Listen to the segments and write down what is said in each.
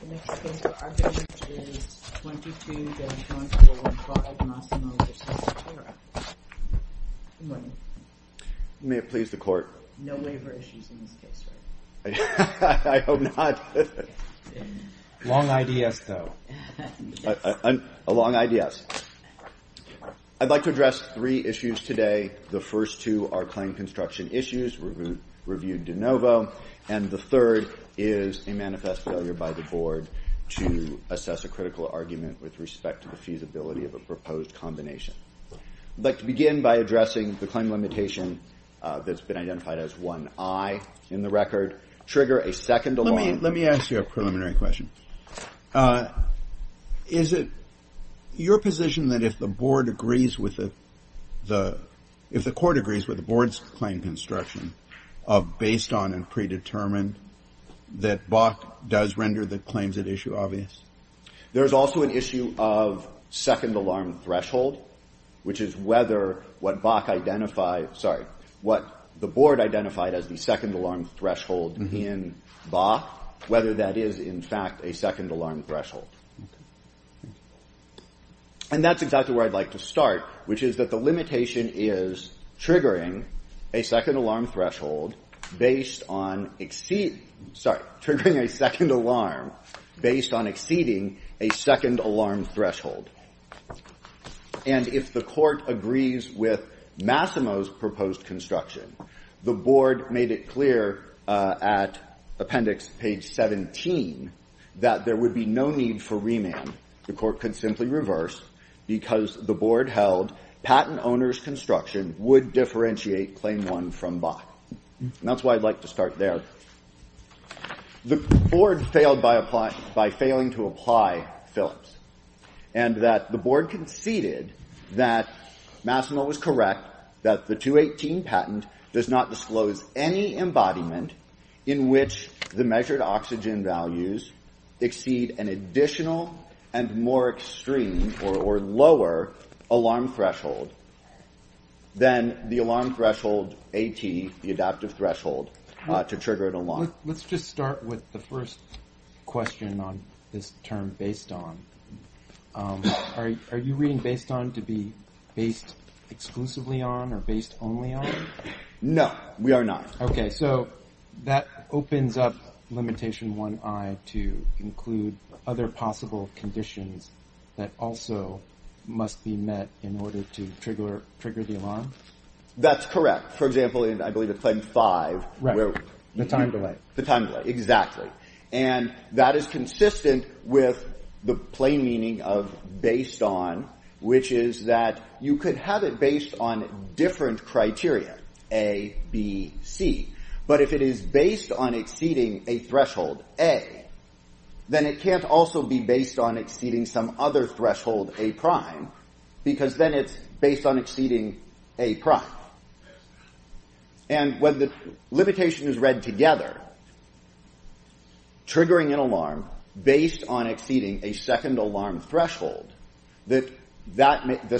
The next case we're arguing is 22-0245 Massimo v. Sotera. Good morning. May it please the Court. No waiver issues in this case, right? I hope not. Long I.D.S., though. A long I.D.S. I'd like to address three issues today. The first two are claim construction issues, reviewed de novo. And the third is a manifest failure by the Board to assess a critical argument with respect to the feasibility of a proposed combination. I'd like to begin by addressing the claim limitation that's been identified as one I in the record. Trigger a second alarm. Let me ask you a preliminary question. Is it your position that if the Board agrees with the, if the Court agrees with the Board's claim construction of based on and predetermined, that BAC does render the claims at issue obvious? There is also an issue of second alarm threshold, which is whether what BAC identified, sorry, what the Board identified as the second alarm threshold in BAC, whether that is, in fact, a second alarm threshold. And that's exactly where I'd like to start, which is that the limitation is triggering a second alarm threshold based on exceed, sorry, triggering a second alarm based on exceeding a second alarm threshold. And if the Court agrees with Massimo's proposed construction, the Board made it clear at appendix page 17 that there would be no need for remand. The Court could simply reverse because the Board held patent owner's construction would differentiate claim one from BAC. And that's why I'd like to start there. The Board failed by applying, by failing to apply Phillips, and that the Board conceded that Massimo was correct, that the 218 patent does not disclose any embodiment in which the measured oxygen values exceed an additional and more extreme or lower alarm threshold than the alarm threshold AT, the adaptive threshold, to trigger an alarm. Let's just start with the first question on this term based on. Are you reading based on to be based exclusively on or based only on? No, we are not. Okay, so that opens up limitation one I to include other possible conditions that also must be met in order to trigger the alarm? That's correct. For example, I believe it's claim five. Right. The time delay. The time delay, exactly. And that is consistent with the plain meaning of based on, which is that you could have it based on different criteria, A, B, C. But if it is based on exceeding a threshold A, then it can't also be based on exceeding some other threshold A prime, because then it's based on exceeding A prime. And when the limitation is read together, triggering an alarm based on exceeding a second alarm threshold, the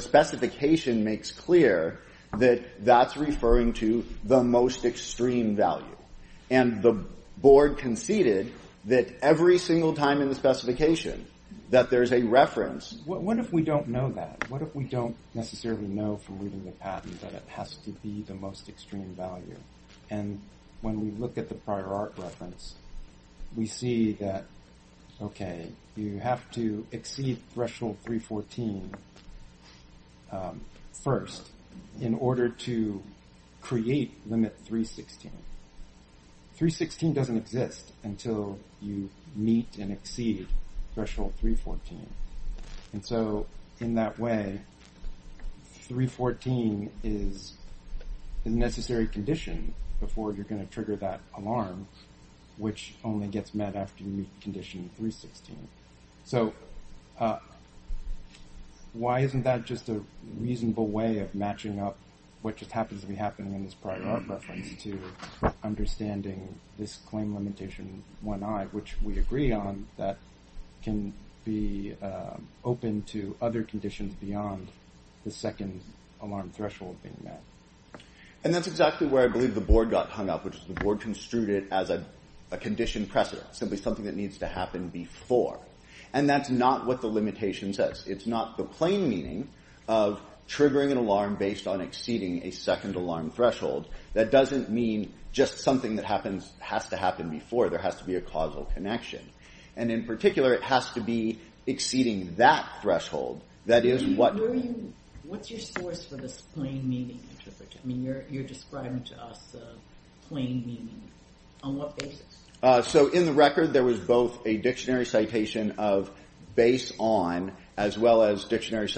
specification makes clear that that's referring to the most extreme value. And the board conceded that every single time in the specification that there's a reference. What if we don't know that? What if we don't necessarily know from reading the patent that it has to be the most extreme value? And when we look at the prior art reference, we see that, okay, you have to exceed threshold 314 first in order to create limit 316. 316 doesn't exist until you meet and exceed threshold 314. And so in that way, 314 is a necessary condition before you're going to trigger that alarm, which only gets met after you meet condition 316. So why isn't that just a reasonable way of matching up what just happens to be happening in this prior art reference to understanding this claim limitation 1I, which we agree on, that can be open to other conditions beyond the second alarm threshold being met? And that's exactly where I believe the board got hung up, which is the board construed it as a condition precedent, simply something that needs to happen before. And that's not what the limitation says. It's not the plain meaning of triggering an alarm based on exceeding a second alarm threshold. That doesn't mean just something that has to happen before. There has to be a causal connection. And in particular, it has to be exceeding that threshold. What's your source for this plain meaning? You're describing to us plain meaning. On what basis? So in the record, there was both a dictionary citation of base on as well as dictionary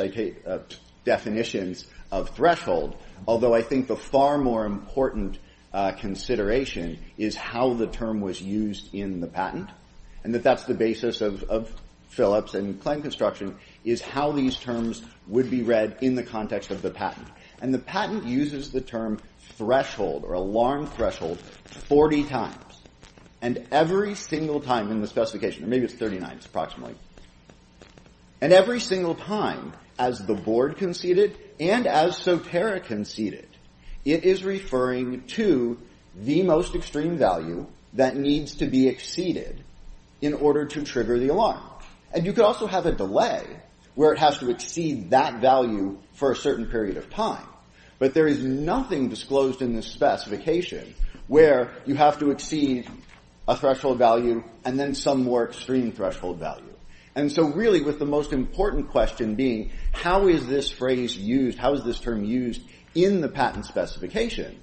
definitions of threshold, although I think the far more important consideration is how the term was used in the patent, and that that's the basis of Phillips and claim construction, is how these terms would be read in the context of the patent. And the patent uses the term threshold or alarm threshold 40 times. And every single time in the specification, maybe it's 39 approximately, and every single time as the board conceded and as Sotera conceded, it is referring to the most extreme value that needs to be exceeded in order to trigger the alarm. And you could also have a delay where it has to exceed that value for a certain period of time. But there is nothing disclosed in this specification where you have to exceed a threshold value and then some more extreme threshold value. And so really with the most important question being how is this phrase used, how is this term used in the patent specification,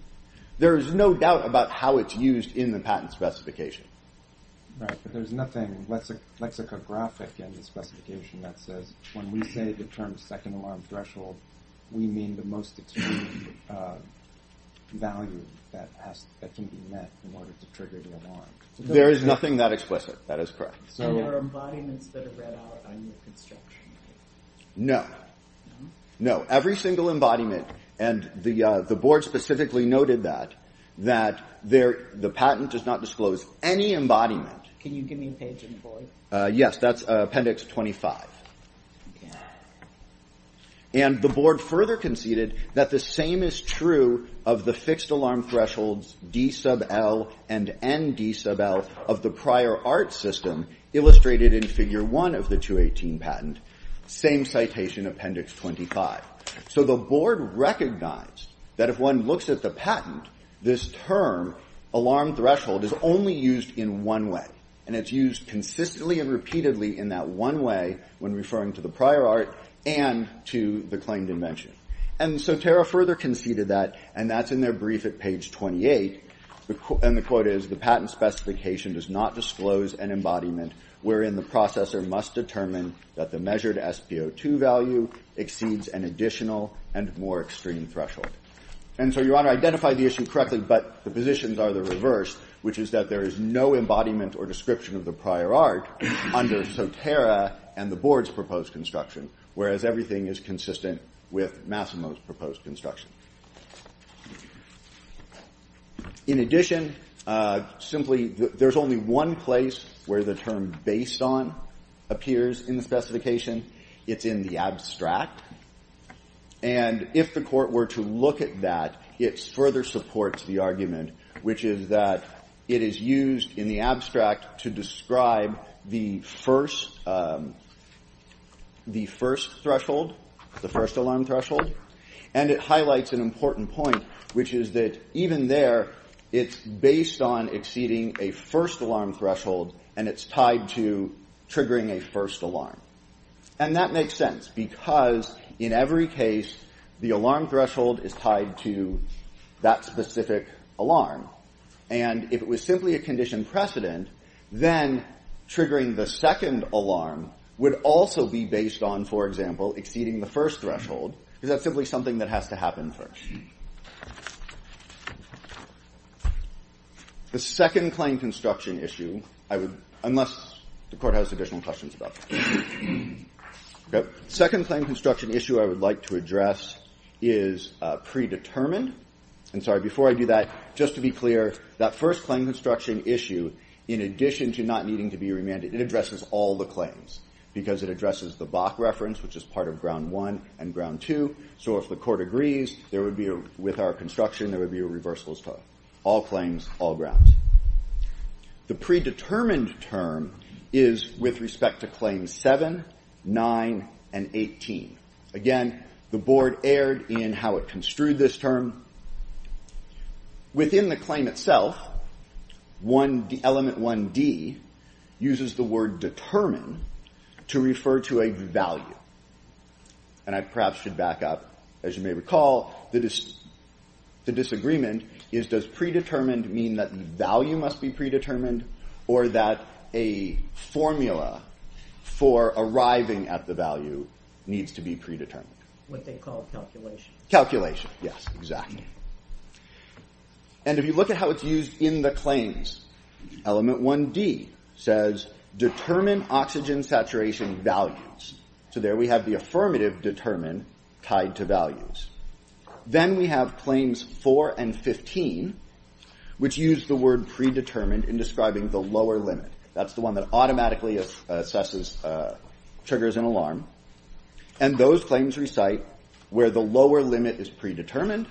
there is no doubt about how it's used in the patent specification. Right, but there's nothing lexicographic in the specification that says when we say the term second alarm threshold, we mean the most extreme value that can be met in order to trigger the alarm. There is nothing that explicit. That is correct. And there are embodiments that are read out on your construction, right? No. No. Every single embodiment, and the board specifically noted that, the patent does not disclose any embodiment. Can you give me a page in the board? Yes, that's Appendix 25. Okay. And the board further conceded that the same is true of the fixed alarm thresholds D sub L and N D sub L of the prior art system illustrated in Figure 1 of the 218 patent. Same citation, Appendix 25. So the board recognized that if one looks at the patent, this term alarm threshold is only used in one way. And it's used consistently and repeatedly in that one way when referring to the prior art and to the claimed invention. And so Tara further conceded that, and that's in their brief at page 28. And the quote is, the patent specification does not disclose an embodiment wherein the processor must determine that the measured SPO2 value exceeds an additional and more extreme threshold. And so, Your Honor, identify the issue correctly, but the positions are the reverse, which is that there is no embodiment or description of the prior art under Sotera and the board's proposed construction, whereas everything is consistent with Massimo's proposed construction. In addition, simply, there's only one place where the term based on appears in the specification. It's in the abstract. And if the Court were to look at that, it further supports the argument, which is that it is used in the abstract to describe the first threshold, the first alarm threshold. And it highlights an important point, which is that even there, it's based on exceeding a first alarm threshold, and it's tied to triggering a first alarm. And that makes sense, because in every case, the alarm threshold is tied to that specific alarm. And if it was simply a condition precedent, then triggering the second alarm would also be based on, for example, exceeding the first threshold, because that's simply something that has to happen first. The second claim construction issue, I would, unless the Court has additional questions about that. The second claim construction issue I would like to address is predetermined. And, sorry, before I do that, just to be clear, that first claim construction issue, in addition to not needing to be remanded, it addresses all the claims, because it addresses the Bach reference, which is part of ground one and ground two. So if the Court agrees with our construction, there would be a reversal of all claims, all grounds. The predetermined term is with respect to claims seven, nine, and 18. Again, the Board erred in how it construed this term. Within the claim itself, element 1D uses the word determine to refer to a value. And I perhaps should back up, as you may recall, the disagreement is, does predetermined mean that the value must be predetermined, or that a formula for arriving at the value needs to be predetermined? What they call calculation. Calculation, yes, exactly. And if you look at how it's used in the claims, element 1D says, determine oxygen saturation values. So there we have the affirmative determine tied to values. Then we have claims four and 15, which use the word predetermined in describing the lower limit. That's the one that automatically assesses, triggers an alarm. And those claims recite where the lower limit is predetermined.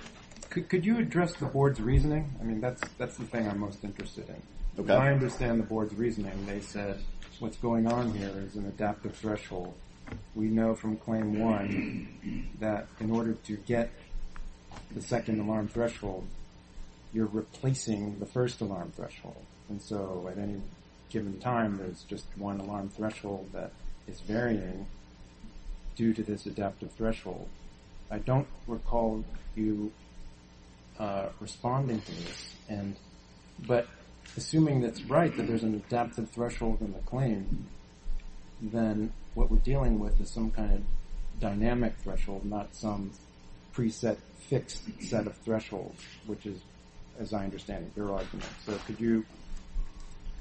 Could you address the Board's reasoning? I mean, that's the thing I'm most interested in. I understand the Board's reasoning. They said what's going on here is an adaptive threshold. We know from claim one that in order to get the second alarm threshold, you're replacing the first alarm threshold. And so at any given time, there's just one alarm threshold that is varying due to this adaptive threshold. I don't recall you responding to this. But assuming that's right, that there's an adaptive threshold in the claim, then what we're dealing with is some kind of dynamic threshold, not some preset fixed set of thresholds, which is, as I understand it, your argument.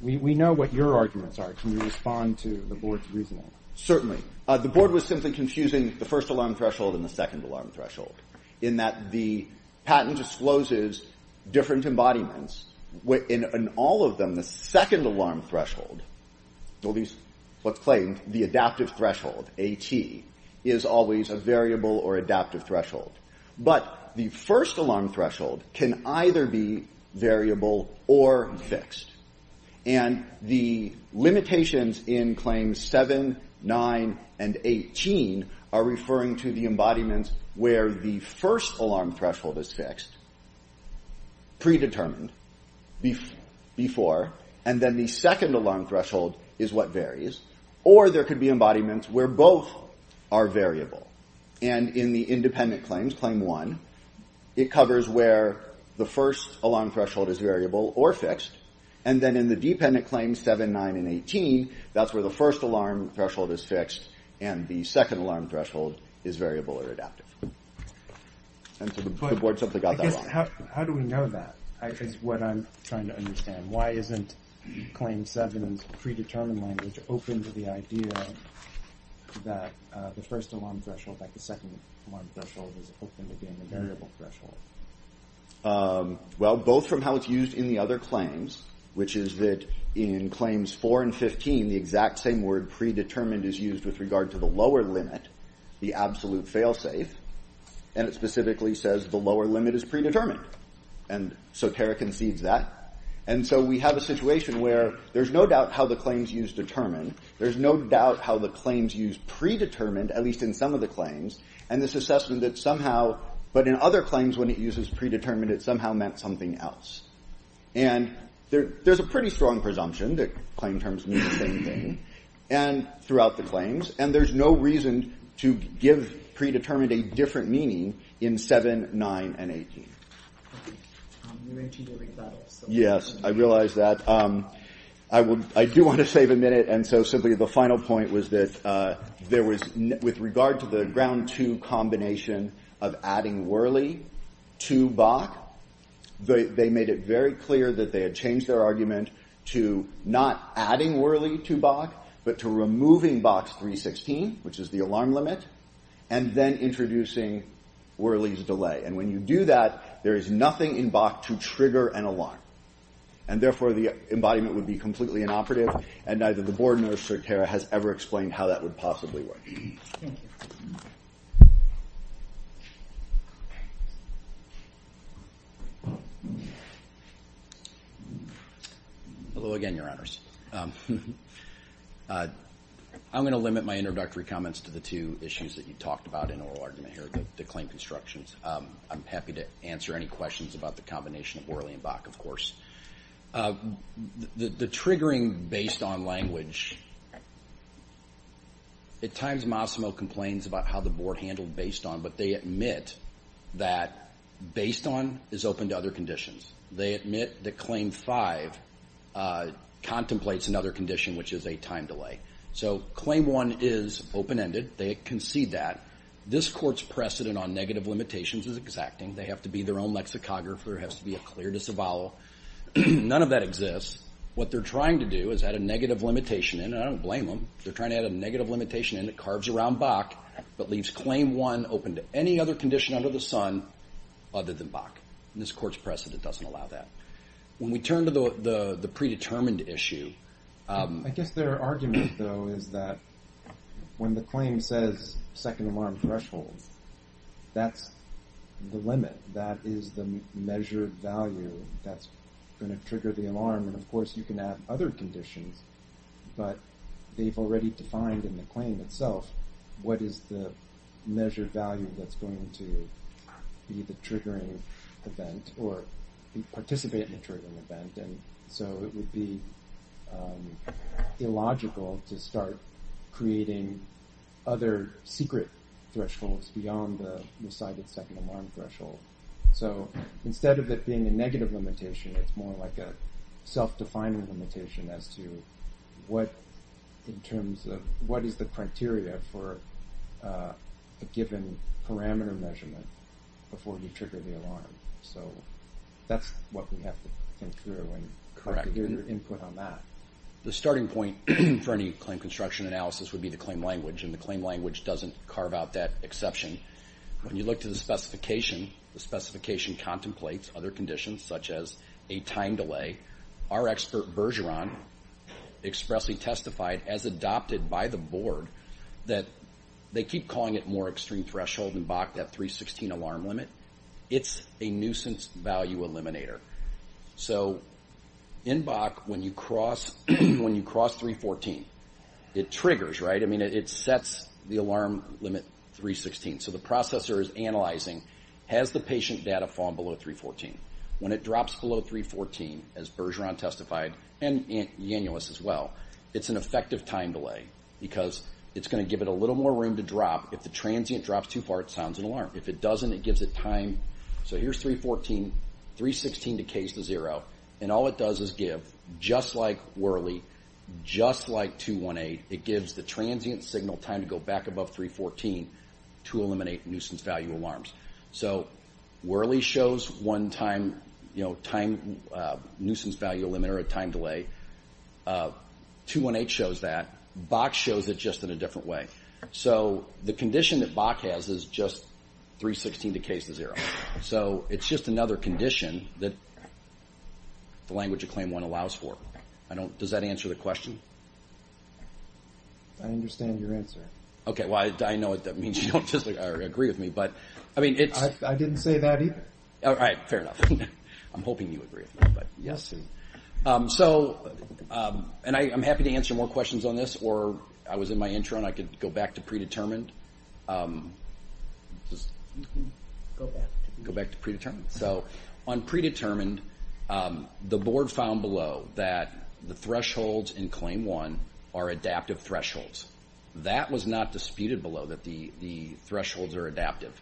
We know what your arguments are. Can you respond to the Board's reasoning? Certainly. The Board was simply confusing the first alarm threshold and the second alarm threshold in that the patent discloses different embodiments. In all of them, the second alarm threshold, at least what's claimed, the adaptive threshold, AT, is always a variable or adaptive threshold. But the first alarm threshold can either be variable or fixed. And the limitations in claims 7, 9, and 18 are referring to the embodiments where the first alarm threshold is fixed, predetermined before, and then the second alarm threshold is what varies. Or there could be embodiments where both are variable. And in the independent claims, claim 1, it covers where the first alarm threshold is variable or fixed. And then in the dependent claims 7, 9, and 18, that's where the first alarm threshold is fixed and the second alarm threshold is variable or adaptive. And so the Board simply got that wrong. How do we know that is what I'm trying to understand. Why isn't claim 7's predetermined language open to the idea that the first alarm threshold, like the second alarm threshold, is open to being a variable threshold? Well, both from how it's used in the other claims, which is that in claims 4 and 15, the exact same word predetermined is used with regard to the lower limit, the absolute fail-safe. And it specifically says the lower limit is predetermined. And Soterra concedes that. And so we have a situation where there's no doubt how the claims used determine. There's no doubt how the claims used predetermined, at least in some of the claims, and this assessment that somehow, but in other claims when it uses predetermined, it somehow meant something else. And there's a pretty strong presumption that claim terms mean the same thing throughout the claims. And there's no reason to give predetermined a different meaning in 7, 9, and 18. Yes, I realize that. I do want to save a minute. And so simply the final point was that there was, with regard to the ground two combination of adding Worley to Bach, they made it very clear that they had changed their argument to not adding Worley to Bach, but to removing Bach's 316, which is the alarm limit, and then introducing Worley's delay. And therefore, the embodiment would be completely inoperative and neither the board nor Soterra has ever explained how that would possibly work. Thank you. Hello again, Your Honors. I'm going to limit my introductory comments to the two issues that you talked about in oral argument here, the claim constructions. I'm happy to answer any questions about the combination of Worley and Bach, of course. The triggering based on language, at times Mossimo complains about how the board handled based on, but they admit that based on is open to other conditions. They admit that Claim 5 contemplates another condition, which is a time delay. So Claim 1 is open-ended. They concede that. This court's precedent on negative limitations is exacting. They have to be their own lexicographer. There has to be a clear disavowal. None of that exists. What they're trying to do is add a negative limitation in, and I don't blame them. They're trying to add a negative limitation in that carves around Bach, but leaves Claim 1 open to any other condition under the sun other than Bach. This court's precedent doesn't allow that. When we turn to the predetermined issue... I guess their argument, though, is that when the claim says second alarm threshold, that's the limit. That is the measured value that's going to trigger the alarm. And, of course, you can add other conditions, but they've already defined in the claim itself what is the measured value that's going to be the triggering event or participate in the triggering event. So it would be illogical to start creating other secret thresholds beyond the decided second alarm threshold. So instead of it being a negative limitation, it's more like a self-defining limitation as to what is the criteria for a given parameter measurement before you trigger the alarm. So that's what we have to think through, and I'd like to hear your input on that. The starting point for any claim construction analysis would be the claim language, and the claim language doesn't carve out that exception. When you look to the specification, the specification contemplates other conditions, such as a time delay. Our expert Bergeron expressly testified, as adopted by the board, that they keep calling it more extreme threshold than Bach, that 316 alarm limit. It's a nuisance value eliminator. So in Bach, when you cross 314, it triggers, right? I mean, it sets the alarm limit 316. So the processor is analyzing, has the patient data fallen below 314? When it drops below 314, as Bergeron testified, and Yanuelos as well, it's an effective time delay because it's going to give it a little more room to drop. If the transient drops too far, it sounds an alarm. If it doesn't, it gives it time. So here's 314, 316 decays to zero, and all it does is give, just like Worley, just like 218, it gives the transient signal time to go back above 314 to eliminate nuisance value alarms. So Worley shows one time, you know, time nuisance value eliminator, a time delay. 218 shows that. Bach shows it just in a different way. So the condition that Bach has is just 316 decays to zero. So it's just another condition that the language of Claim 1 allows for. Does that answer the question? I understand your answer. Okay, well, I know that means you don't just agree with me, but, I mean, it's... I didn't say that either. All right, fair enough. I'm hoping you agree with me, but... Yes, sir. So, and I'm happy to answer more questions on this, or I was in my intro, and I could go back to predetermined. Go back to predetermined. So on predetermined, the Board found below that the thresholds in Claim 1 are adaptive thresholds. That was not disputed below, that the thresholds are adaptive.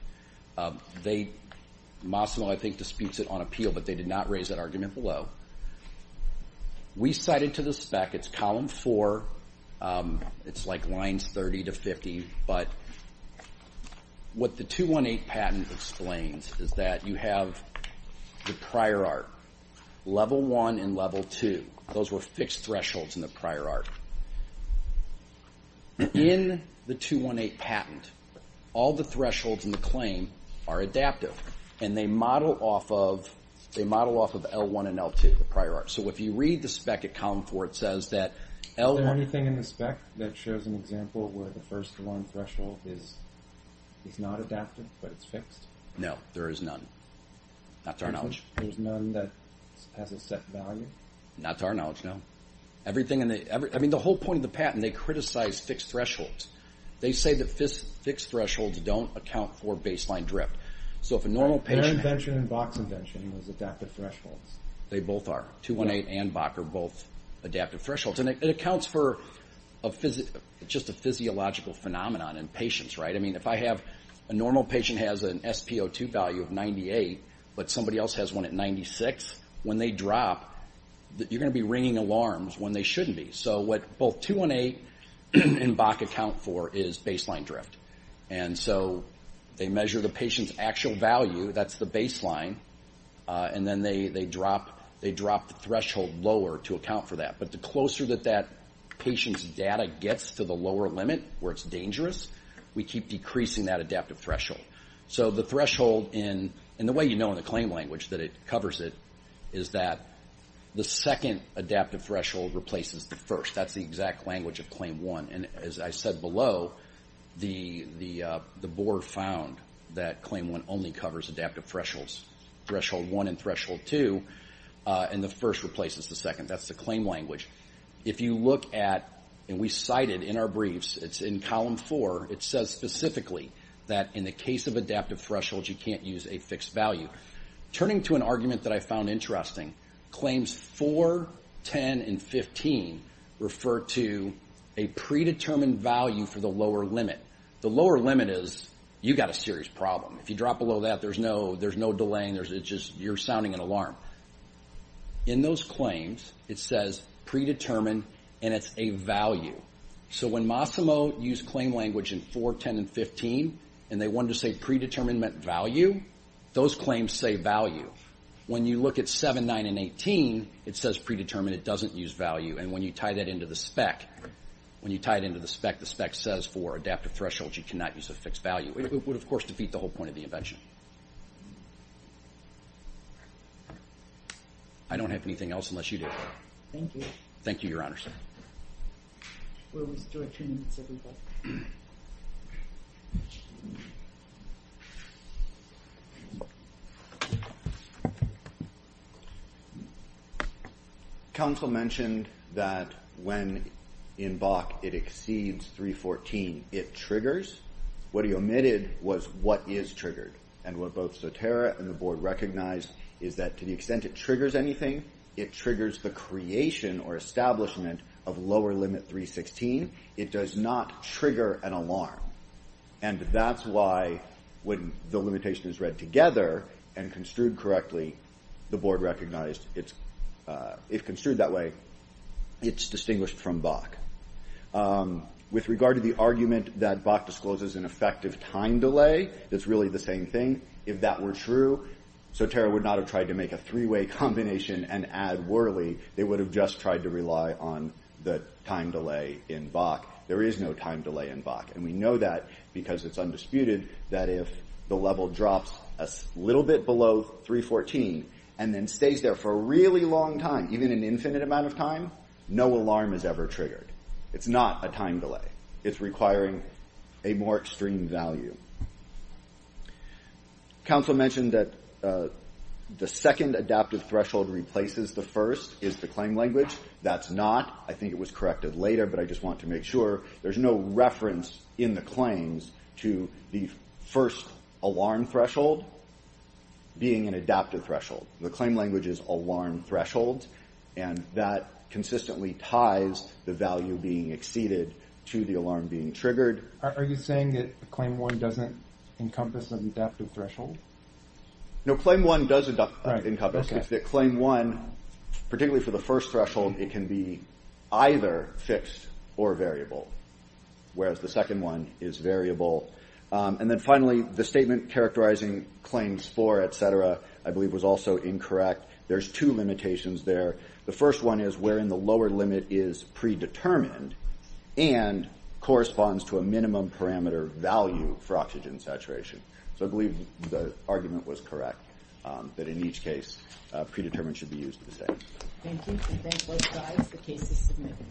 They...Mossimo, I think, disputes it on appeal, but they did not raise that argument below. We cited to the spec, it's Column 4, it's like lines 30 to 50, but what the 218 patent explains is that you have the prior art, Level 1 and Level 2. Those were fixed thresholds in the prior art. In the 218 patent, all the thresholds in the claim are adaptive, and they model off of L1 and L2, the prior art. So if you read the spec at Column 4, it says that L1... Is there anything in the spec that shows an example where the first one threshold is not adaptive, but it's fixed? No, there is none. Not to our knowledge. There's none that has a set value? Not to our knowledge, no. Everything in the... I mean, the whole point of the patent, they criticize fixed thresholds. They say that fixed thresholds don't account for baseline drift. So if a normal patient... Their invention and Bach's invention was adaptive thresholds. They both are. 218 and Bach are both adaptive thresholds. And it accounts for just a physiological phenomenon in patients, right? I mean, if I have... A normal patient has an SpO2 value of 98, but somebody else has one at 96, when they drop, you're going to be ringing alarms when they shouldn't be. So what both 218 and Bach account for is baseline drift. And so they measure the patient's actual value. That's the baseline. And then they drop the threshold lower to account for that. But the closer that that patient's data gets to the lower limit, where it's dangerous, we keep decreasing that adaptive threshold. So the threshold in... And the way you know in the claim language that it covers it is that the second adaptive threshold replaces the first. That's the exact language of Claim 1. And as I said below, the board found that Claim 1 only covers adaptive thresholds, Threshold 1 and Threshold 2, and the first replaces the second. That's the claim language. If you look at... And we cited in our briefs, it's in Column 4, it says specifically that in the case of adaptive thresholds, you can't use a fixed value. Turning to an argument that I found interesting, claims 4, 10, and 15 refer to a predetermined value for the lower limit. The lower limit is you've got a serious problem. If you drop below that, there's no delaying. It's just you're sounding an alarm. In those claims, it says predetermined, and it's a value. So when Massimo used claim language in 4, 10, and 15, and they wanted to say predetermined meant value, those claims say value. When you look at 7, 9, and 18, it says predetermined, it doesn't use value. And when you tie that into the spec, when you tie it into the spec, the spec says for adaptive thresholds, you cannot use a fixed value. It would, of course, defeat the whole point of the invention. I don't have anything else unless you do. Thank you. Thank you, Your Honor. We'll restore two minutes, everybody. Counsel mentioned that when in Bach it exceeds 3, 14, it triggers. What he omitted was what is triggered. And what both Zotero and the board recognized is that to the extent it triggers anything, it triggers the creation or establishment of lower limit 3, 16. It does not trigger an alarm. And that's why when the limitation is read together and construed correctly, the board recognized, if construed that way, it's distinguished from Bach. With regard to the argument that Bach discloses an effective time delay, it's really the same thing. If that were true, Zotero would not have tried to make a three-way combination and add Worley. They would have just tried to rely on the time delay in Bach. There is no time delay in Bach. And we know that because it's undisputed that if the level drops a little bit below 3, 14 and then stays there for a really long time, even an infinite amount of time, no alarm is ever triggered. It's not a time delay. It's requiring a more extreme value. Counsel mentioned that the second adaptive threshold replaces the first, is the claim language. That's not. I think it was corrected later, but I just want to make sure. There's no reference in the claims to the first alarm threshold being an adaptive threshold. The claim language is alarm threshold, and that consistently ties the value being exceeded to the alarm being triggered. Are you saying that Claim 1 doesn't encompass an adaptive threshold? No, Claim 1 does encompass. It's that Claim 1, particularly for the first threshold, it can be either fixed or variable, whereas the second one is variable. And then finally, the statement characterizing claims 4, et cetera, I believe was also incorrect. There's two limitations there. The first one is wherein the lower limit is predetermined and corresponds to a minimum parameter value for oxygen saturation. So I believe the argument was correct, that in each case predetermined should be used at the same time. Thank you. Thank both sides. The case is submitted.